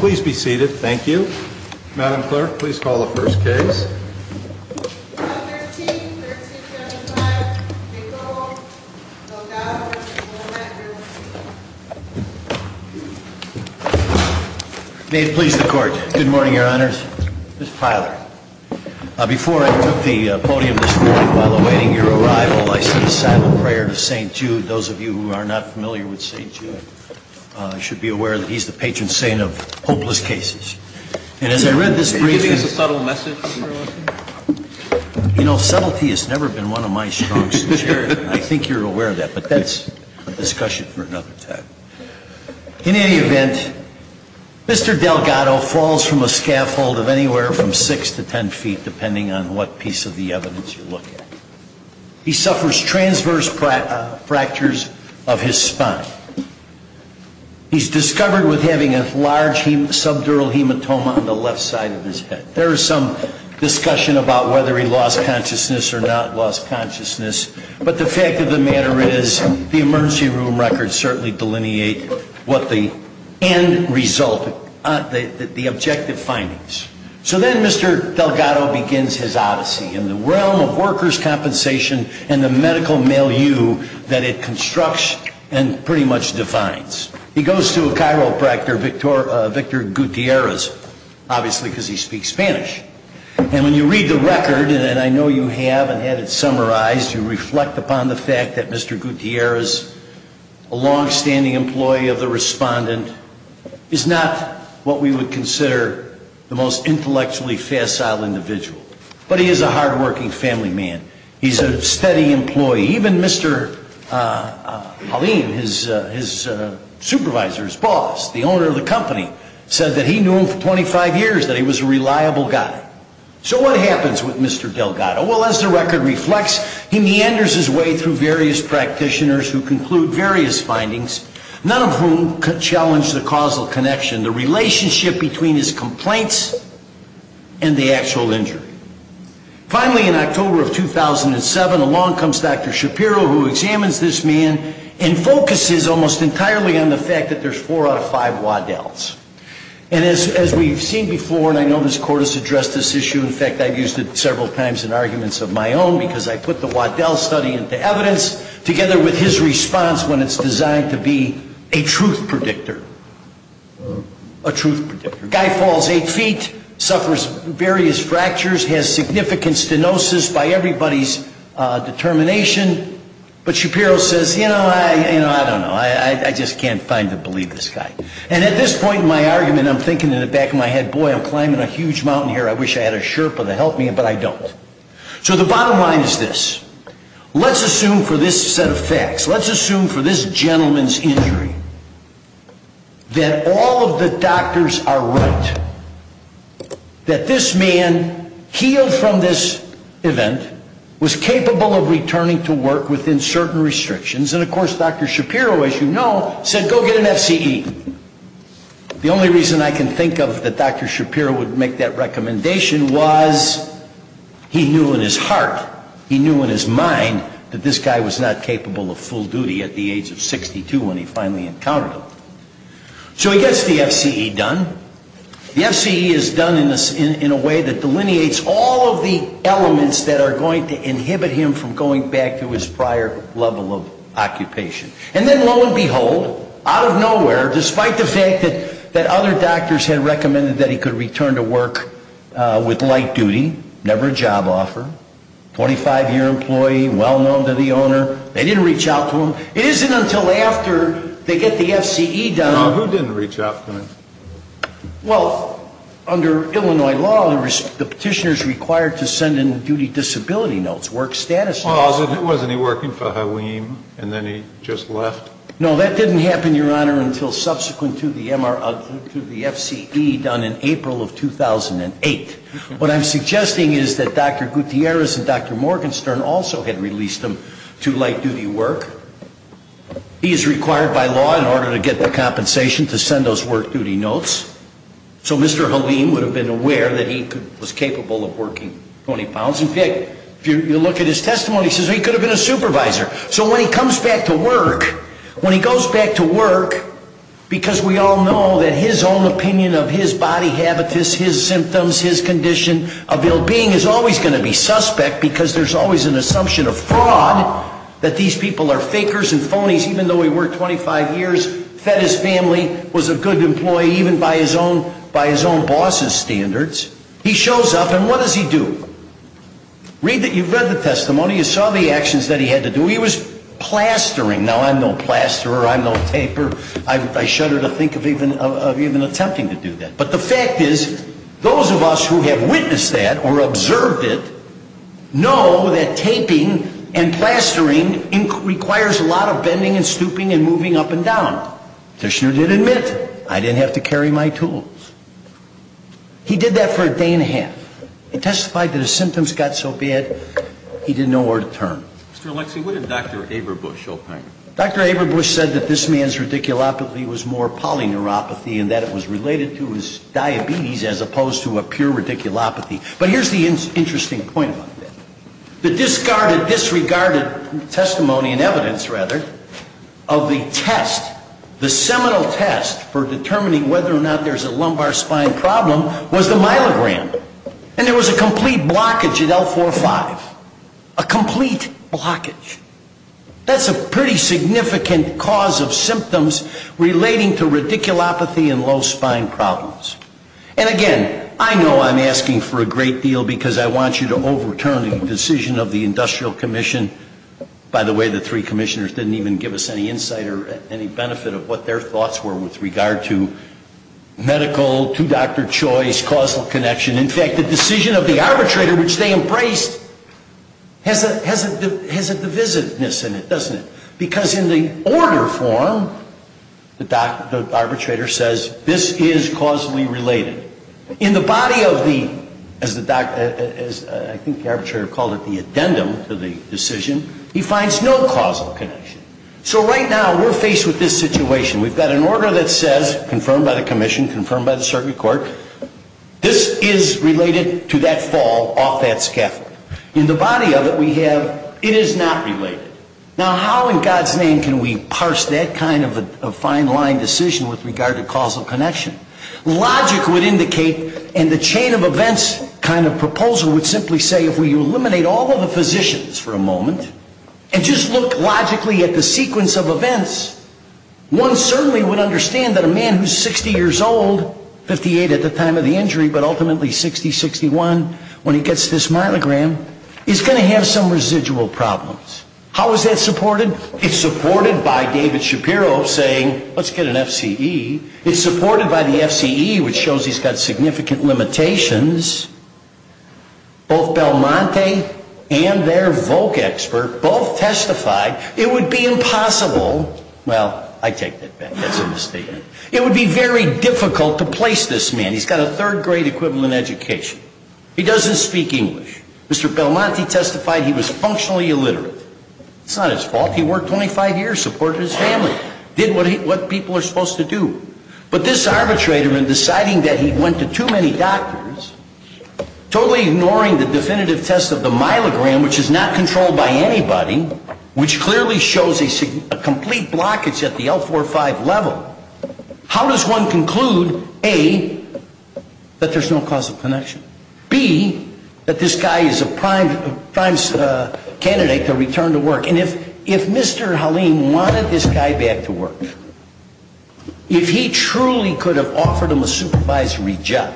Please be seated. Thank you. Madam Clerk, please call the first case. May it please the Court. Good morning, Your Honors. Ms. Pyler. Before I took the podium this morning while awaiting your arrival, I sent a silent prayer to St. Jude. Those of you who are not familiar with St. Jude should be aware that he's the patron saint of hopeless cases. And as I read this brief— Is this a subtle message for us? You know, subtlety has never been one of my strengths. I think you're aware of that, but that's a discussion for another time. In any event, Mr. Delgado falls from a scaffold of anywhere from 6 to 10 feet, depending on what piece of the evidence you look at. He suffers transverse fractures of his spine. He's discovered with having a large subdural hematoma on the left side of his head. There is some discussion about whether he lost consciousness or not lost consciousness, but the fact of the matter is the emergency room records certainly delineate what the end result—the objective findings. So then Mr. Delgado begins his odyssey in the realm of workers' compensation and the medical milieu that it constructs and pretty much defines. He goes to a chiropractor, Victor Gutierrez, obviously because he speaks Spanish. And when you read the record, and I know you have and had it summarized, you reflect upon the fact that Mr. Gutierrez, a longstanding employee of the respondent, is not what we would consider the most intellectually facile individual. But he is a hardworking family man. He's a steady employee. Even Mr. Halim, his supervisor, his boss, the owner of the company, said that he knew him for 25 years, that he was a reliable guy. So what happens with Mr. Delgado? Well, as the record reflects, he meanders his way through various practitioners who conclude various findings, none of whom challenge the causal connection, the relationship between his complaints and the actual injury. Finally, in October of 2007, along comes Dr. Shapiro, who examines this man and focuses almost entirely on the fact that there's four out of five Waddells. And as we've seen before, and I know this Court has addressed this issue. In fact, I've used it several times in arguments of my own because I put the Waddell study into evidence together with his response when it's designed to be a truth predictor. A truth predictor. Guy falls eight feet, suffers various fractures, has significant stenosis by everybody's determination. But Shapiro says, you know, I don't know. I just can't find to believe this guy. And at this point in my argument, I'm thinking in the back of my head, boy, I'm climbing a huge mountain here. I wish I had a Sherpa to help me, but I don't. So the bottom line is this. Let's assume for this set of facts. Let's assume for this gentleman's injury that all of the doctors are right. That this man healed from this event, was capable of returning to work within certain restrictions. And of course, Dr. Shapiro, as you know, said go get an FCE. The only reason I can think of that Dr. Shapiro would make that recommendation was he knew in his heart, he knew in his mind that this guy was not capable of full duty at the age of 62 when he finally encountered him. So he gets the FCE done. The FCE is done in a way that delineates all of the elements that are going to inhibit him from going back to his prior level of occupation. And then lo and behold, out of nowhere, despite the fact that other doctors had recommended that he could return to work with light duty, never a job offer, 25-year employee, well-known to the owner, they didn't reach out to him. It isn't until after they get the FCE done. Now, who didn't reach out to him? Well, under Illinois law, the petitioner's required to send in duty disability notes, work status notes. Well, wasn't he working for Haleem and then he just left? No, that didn't happen, Your Honor, until subsequent to the FCE done in April of 2008. What I'm suggesting is that Dr. Gutierrez and Dr. Morgenstern also had released him to light duty work. He is required by law in order to get the compensation to send those work duty notes. So Mr. Haleem would have been aware that he was capable of working 20 pounds. In fact, if you look at his testimony, he says he could have been a supervisor. So when he comes back to work, when he goes back to work, because we all know that his own opinion of his body habitus, his symptoms, his condition, of ill-being is always going to be suspect because there's always an assumption of fraud that these people are fakers and phonies even though he worked 25 years, fed his family, was a good employee even by his own boss's standards. He shows up and what does he do? You've read the testimony. You saw the actions that he had to do. He was plastering. Now, I'm no plasterer. I'm no taper. I shudder to think of even attempting to do that. But the fact is those of us who have witnessed that or observed it know that taping and plastering requires a lot of bending and stooping and moving up and down. The petitioner did admit, I didn't have to carry my tools. He did that for a day and a half. He testified that his symptoms got so bad he didn't know where to turn. Mr. Alexi, what did Dr. Aberbush opine? Dr. Aberbush said that this man's radiculopathy was more polyneuropathy and that it was related to his diabetes as opposed to a pure radiculopathy. But here's the interesting point about that. The discarded, disregarded testimony and evidence, rather, of the test, the seminal test for determining whether or not there's a lumbar spine problem was the myelogram. And there was a complete blockage at L4-5, a complete blockage. That's a pretty significant cause of symptoms relating to radiculopathy and low spine problems. And again, I know I'm asking for a great deal because I want you to overturn the decision of the Industrial Commission. By the way, the three commissioners didn't even give us any insight or any benefit of what their thoughts were with regard to medical, two-doctor choice, causal connection. In fact, the decision of the arbitrator, which they embraced, has a divisiveness in it, doesn't it? Because in the order form, the arbitrator says this is causally related. In the body of the, as I think the arbitrator called it, the addendum to the decision, he finds no causal connection. So right now, we're faced with this situation. We've got an order that says, confirmed by the commission, confirmed by the circuit court, this is related to that fall off that scaffold. In the body of it, we have it is not related. Now, how in God's name can we parse that kind of a fine-lined decision with regard to causal connection? Logic would indicate, and the chain of events kind of proposal would simply say, if we eliminate all of the physicians for a moment and just look logically at the sequence of events, one certainly would understand that a man who is 60 years old, 58 at the time of the injury, but ultimately 60, 61 when he gets this myelogram, is going to have some residual problems. How is that supported? It's supported by David Shapiro saying, let's get an FCE. It's supported by the FCE, which shows he's got significant limitations. Both Belmonte and their Volk expert both testified it would be impossible. Well, I take that back. That's a misstatement. It would be very difficult to place this man. He's got a third-grade equivalent education. He doesn't speak English. Mr. Belmonte testified he was functionally illiterate. It's not his fault. He worked 25 years, supported his family, did what people are supposed to do. But this arbitrator, in deciding that he went to too many doctors, totally ignoring the definitive test of the myelogram, which is not controlled by anybody, which clearly shows a complete blockage at the L45 level, how does one conclude, A, that there's no causal connection, B, that this guy is a prime candidate to return to work? And if Mr. Haleem wanted this guy back to work, if he truly could have offered him a supervisory job,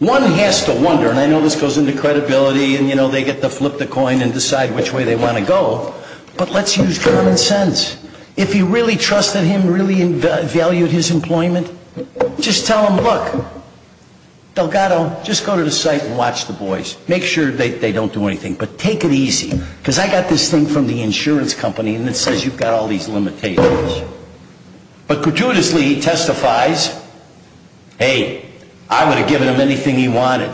one has to wonder, and I know this goes into credibility, and, you know, they get to flip the coin and decide which way they want to go, but let's use common sense. If he really trusted him, really valued his employment, just tell him, look, Delgado, just go to the site and watch the boys. Make sure they don't do anything. But take it easy, because I got this thing from the insurance company, and it says you've got all these limitations. But gratuitously he testifies, hey, I would have given him anything he wanted.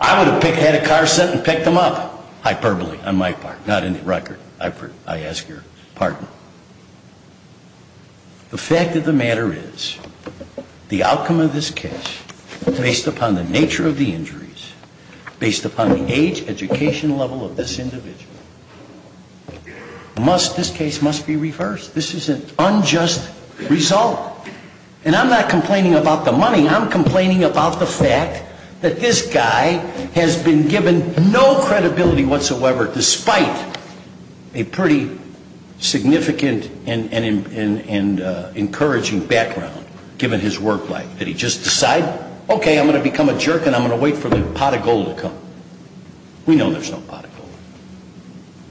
I would have had a car sent and picked him up. Hyperbole on my part, not in the record. I ask your pardon. The fact of the matter is, the outcome of this case, based upon the nature of the injuries, based upon the age, education level of this individual, must, this case must be reversed. This is an unjust result. And I'm not complaining about the money. I'm complaining about the fact that this guy has been given no credibility whatsoever, despite a pretty significant and encouraging background, given his work life, that he just decided, okay, I'm going to become a jerk and I'm going to wait for the pot of gold to come. We know there's no pot of gold.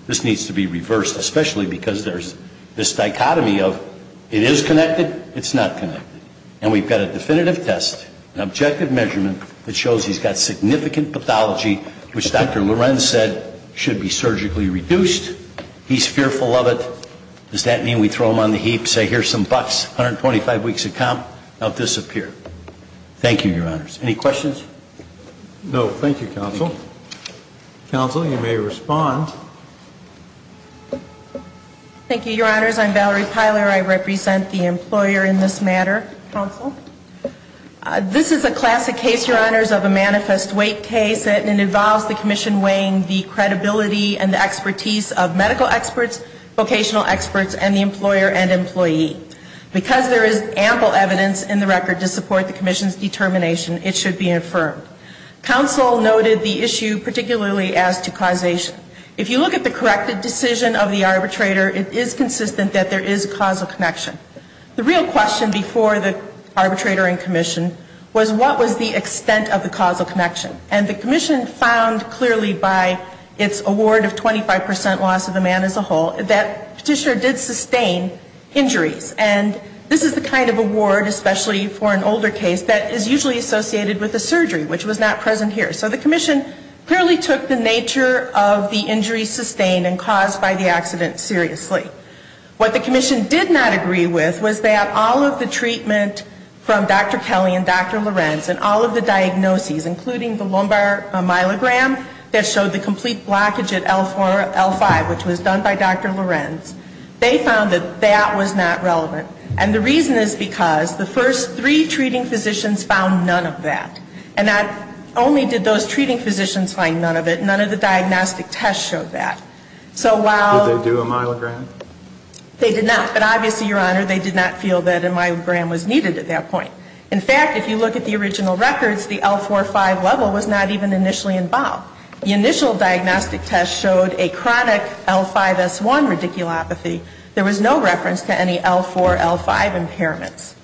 This needs to be reversed, especially because there's this dichotomy of it is connected, it's not connected. And we've got a definitive test, an objective measurement, that shows he's got significant pathology, which Dr. Lorenz said should be surgically reduced. He's fearful of it. Does that mean we throw him on the heap, say here's some bucks, 125 weeks of comp, he'll disappear? Thank you, Your Honors. Any questions? No. Thank you, Counsel. Counsel, you may respond. Thank you, Your Honors. I'm Valerie Piler. I represent the employer in this matter. Counsel. This is a classic case, Your Honors, of a manifest weight case. And it involves the commission weighing the credibility and the expertise of medical experts, vocational experts, and the employer and employee. Because there is ample evidence in the record to support the commission's determination, it should be affirmed. Counsel noted the issue particularly as to causation. If you look at the corrected decision of the arbitrator, it is consistent that there is a causal connection. The real question before the arbitrator and commission was what was the extent of the causal connection. And the commission found clearly by its award of 25% loss of the man as a whole that Petitioner did sustain injuries. And this is the kind of award, especially for an older case, that is usually associated with a surgery, which was not present here. So the commission clearly took the nature of the injuries sustained and caused by the accident seriously. What the commission did not agree with was that all of the treatment from Dr. Kelly and Dr. Lorenz and all of the diagnoses, including the lumbar myelogram that showed the complete blockage at L4, L5, which was done by Dr. Lorenz, they found that that was not relevant. And the reason is because the first three treating physicians found none of that. And not only did those treating physicians find none of it, none of the diagnostic tests showed that. So while they do a myelogram, they did not. But obviously, Your Honor, they did not feel that a myelogram was needed at that point. In fact, if you look at the original records, the L4, L5 level was not even initially involved. The initial diagnostic test showed a chronic L5, S1 radiculopathy. There was no reference to any L4, L5 impairments.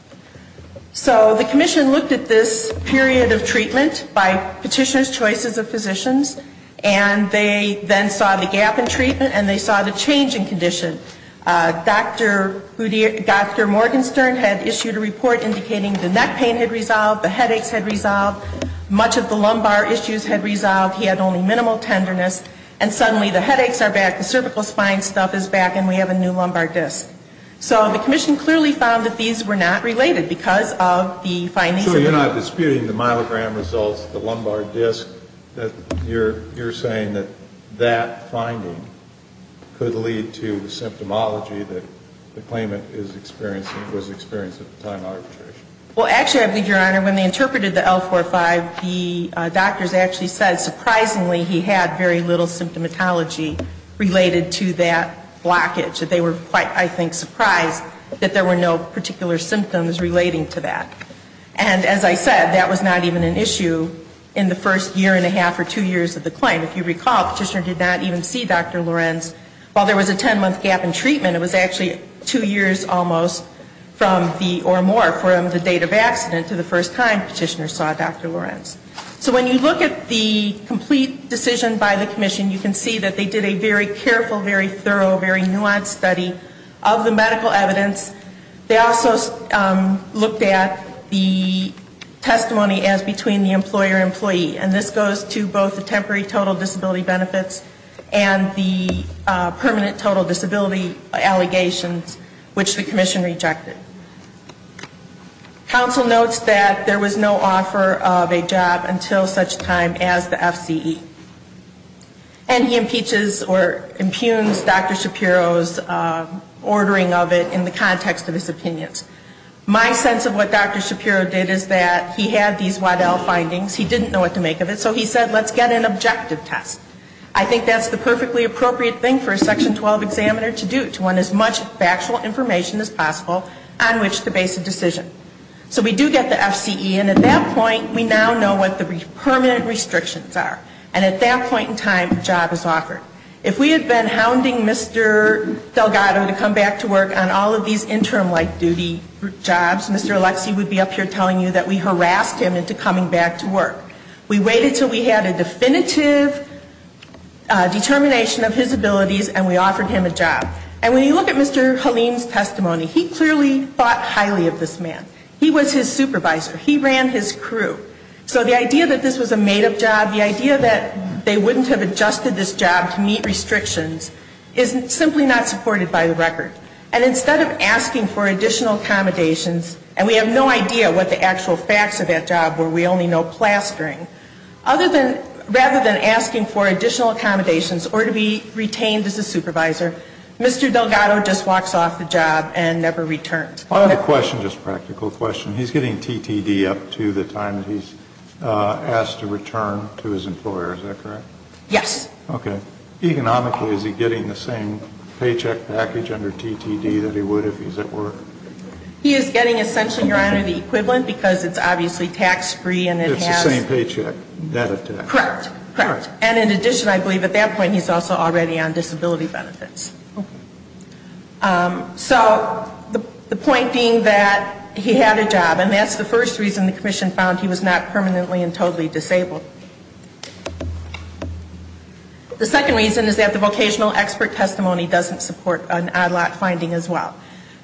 So the commission looked at this period of treatment by Petitioner's choices of physicians, and they then saw the gap in treatment and they saw the change in condition. Dr. Morgenstern had issued a report indicating the neck pain had resolved, the headaches had resolved, much of the lumbar issues had resolved, he had only minimal tenderness, and suddenly the headaches are back, the cervical spine stuff is back, and we have a new lumbar disc. So the commission clearly found that these were not related because of the findings. So you're not disputing the myelogram results, the lumbar disc, that you're saying that that finding could lead to the symptomology that the claimant is experiencing, was experiencing at the time of arbitration? Well, actually, I believe, Your Honor, when they interpreted the L4, L5, the doctors actually said surprisingly he had very little symptomatology related to that blockage. They were quite, I think, surprised that there were no particular symptoms relating to that. And as I said, that was not even an issue in the first year and a half or two years of the claim. If you recall, Petitioner did not even see Dr. Lorenz. While there was a 10-month gap in treatment, it was actually two years almost from the, or more, from the date of accident to the first time Petitioner saw Dr. Lorenz. So when you look at the complete decision by the commission, you can see that they did a very careful, very thorough, very nuanced study of the medical evidence. They also looked at the testimony as between the employer and employee. And this goes to both the temporary total disability benefits and the permanent total disability allegations, which the commission rejected. Counsel notes that there was no offer of a job until such time as the FCE. And he impeaches or impugns Dr. Shapiro's ordering of it in the context of his opinions. My sense of what Dr. Shapiro did is that he had these Waddell findings. He didn't know what to make of it, so he said, let's get an objective test. I think that's the perfectly appropriate thing for a Section 12 examiner to do, to want as much factual information as possible on which to base a decision. So we do get the FCE, and at that point, we now know what the permanent restrictions are. And at that point in time, a job is offered. If we had been hounding Mr. Delgado to come back to work on all of these interim life duty jobs, Mr. Alexie would be up here telling you that we harassed him into coming back to work. We waited until we had a definitive determination of his abilities, and we offered him a job. And when you look at Mr. Halim's testimony, he clearly thought highly of this man. He was his supervisor. He ran his crew. So the idea that this was a made-up job, the idea that they wouldn't have adjusted this job to meet restrictions, is simply not supported by the record. And instead of asking for additional accommodations, and we have no idea what the actual facts of that job were, we only know plastering, rather than asking for additional accommodations or to be retained as a supervisor, Mr. Delgado just walks off the job and never returns. I have a question, just a practical question. He's getting TTD up to the time that he's asked to return to his employer, is that correct? Yes. Okay. Economically, is he getting the same paycheck package under TTD that he would if he's at work? He is getting essentially, Your Honor, the equivalent, because it's obviously tax-free and it has- It's the same paycheck. Correct. Correct. And in addition, I believe at that point he's also already on disability benefits. Okay. So the point being that he had a job, and that's the first reason the Commission found he was not permanently and totally disabled. The second reason is that the vocational expert testimony doesn't support an Odd Lot finding as well.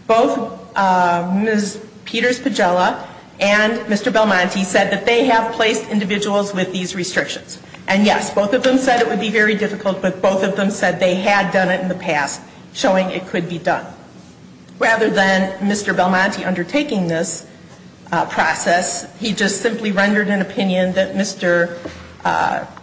Both Ms. Peters-Pagela and Mr. Belmonte said that they have placed individuals with these restrictions. And yes, both of them said it would be very difficult, but both of them said they had done it in the past, showing it could be done. Rather than Mr. Belmonte undertaking this process, he just simply rendered an opinion that Mr.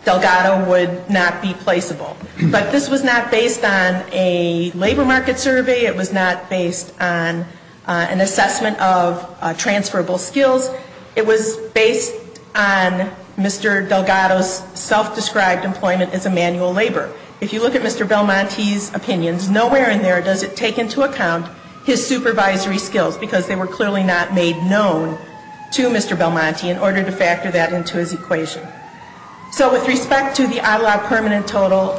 Delgado would not be placeable. But this was not based on a labor market survey. It was not based on an assessment of transferable skills. It was based on Mr. Delgado's self-described employment as a manual laborer. If you look at Mr. Belmonte's opinions, nowhere in there does it take into account his supervisory skills, because they were clearly not made known to Mr. Belmonte in order to factor that into his equation. So with respect to the Odd Lot permanent total,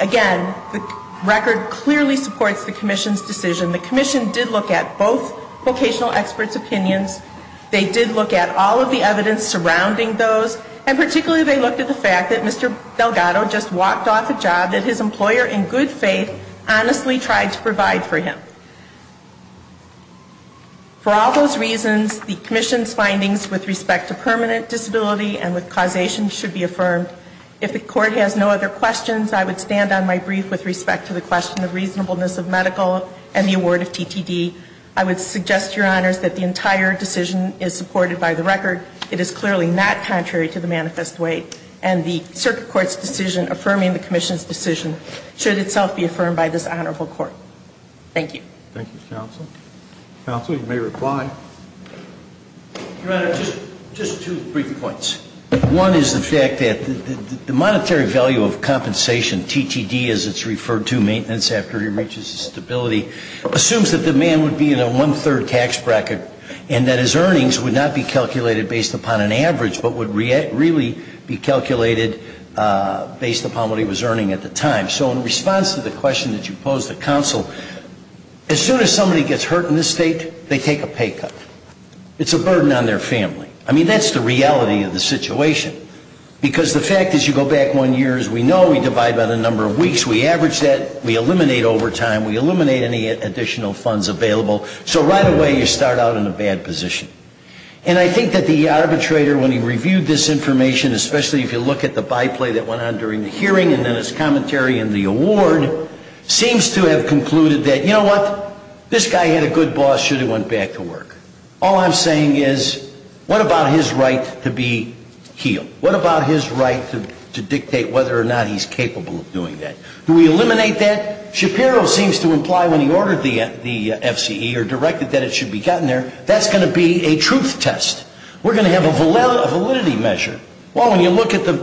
again, the record clearly supports the Commission's decision. The Commission did look at both vocational experts' opinions. They did look at all of the evidence surrounding those, and particularly they looked at the fact that Mr. Delgado just walked off a job that his employer in good faith honestly tried to provide for him. For all those reasons, the Commission's findings with respect to permanent disability and with causation should be affirmed. If the Court has no other questions, I would stand on my brief with respect to the question of reasonableness of medical and the award of TTD. I would suggest, Your Honors, that the entire decision is supported by the record. It is clearly not contrary to the manifest way, and the Circuit Court's decision affirming the Commission's decision should itself be affirmed by this Honorable Court. Thank you. Thank you, Counsel. Counsel, you may reply. Your Honor, just two brief points. One is the fact that the monetary value of compensation, TTD as it's referred to, maintenance after he reaches stability, assumes that the man would be in a one-third tax bracket and that his earnings would not be calculated based upon an average but would really be calculated based upon what he was earning at the time. So in response to the question that you posed to Counsel, as soon as somebody gets hurt in this State, they take a pay cut. It's a burden on their family. I mean, that's the reality of the situation. Because the fact is you go back one year, as we know, we divide by the number of weeks, we average that, we eliminate overtime, we eliminate any additional funds available, so right away you start out in a bad position. And I think that the arbitrator, when he reviewed this information, especially if you look at the by-play that went on during the hearing and then his commentary in the award, seems to have concluded that, you know what, this guy had a good boss should he went back to work. All I'm saying is what about his right to be healed? What about his right to dictate whether or not he's capable of doing that? Do we eliminate that? Shapiro seems to imply when he ordered the FCE or directed that it should be gotten there, that's going to be a truth test. We're going to have a validity measure. Well, when you look at the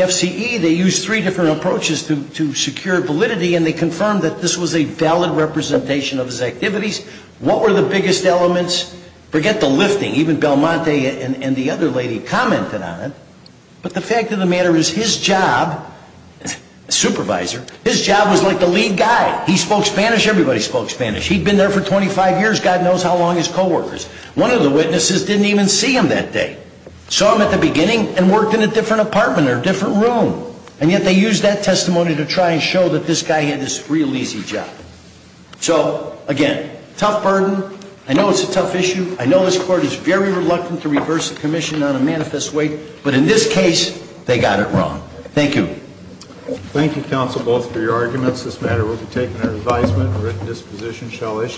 FCE, they used three different approaches to secure validity and they confirmed that this was a valid representation of his activities. What were the biggest elements? Forget the lifting. Even Belmonte and the other lady commented on it. But the fact of the matter is his job, supervisor, his job was like the lead guy. He spoke Spanish. Everybody spoke Spanish. He'd been there for 25 years. God knows how long his coworkers. One of the witnesses didn't even see him that day. Saw him at the beginning and worked in a different apartment or a different room. And yet they used that testimony to try and show that this guy had this real easy job. So, again, tough burden. I know it's a tough issue. I know this court is very reluctant to reverse the commission on a manifest weight. But in this case, they got it wrong. Thank you. Thank you, counsel, both for your arguments. This matter will be taken under advisement. The written disposition shall issue.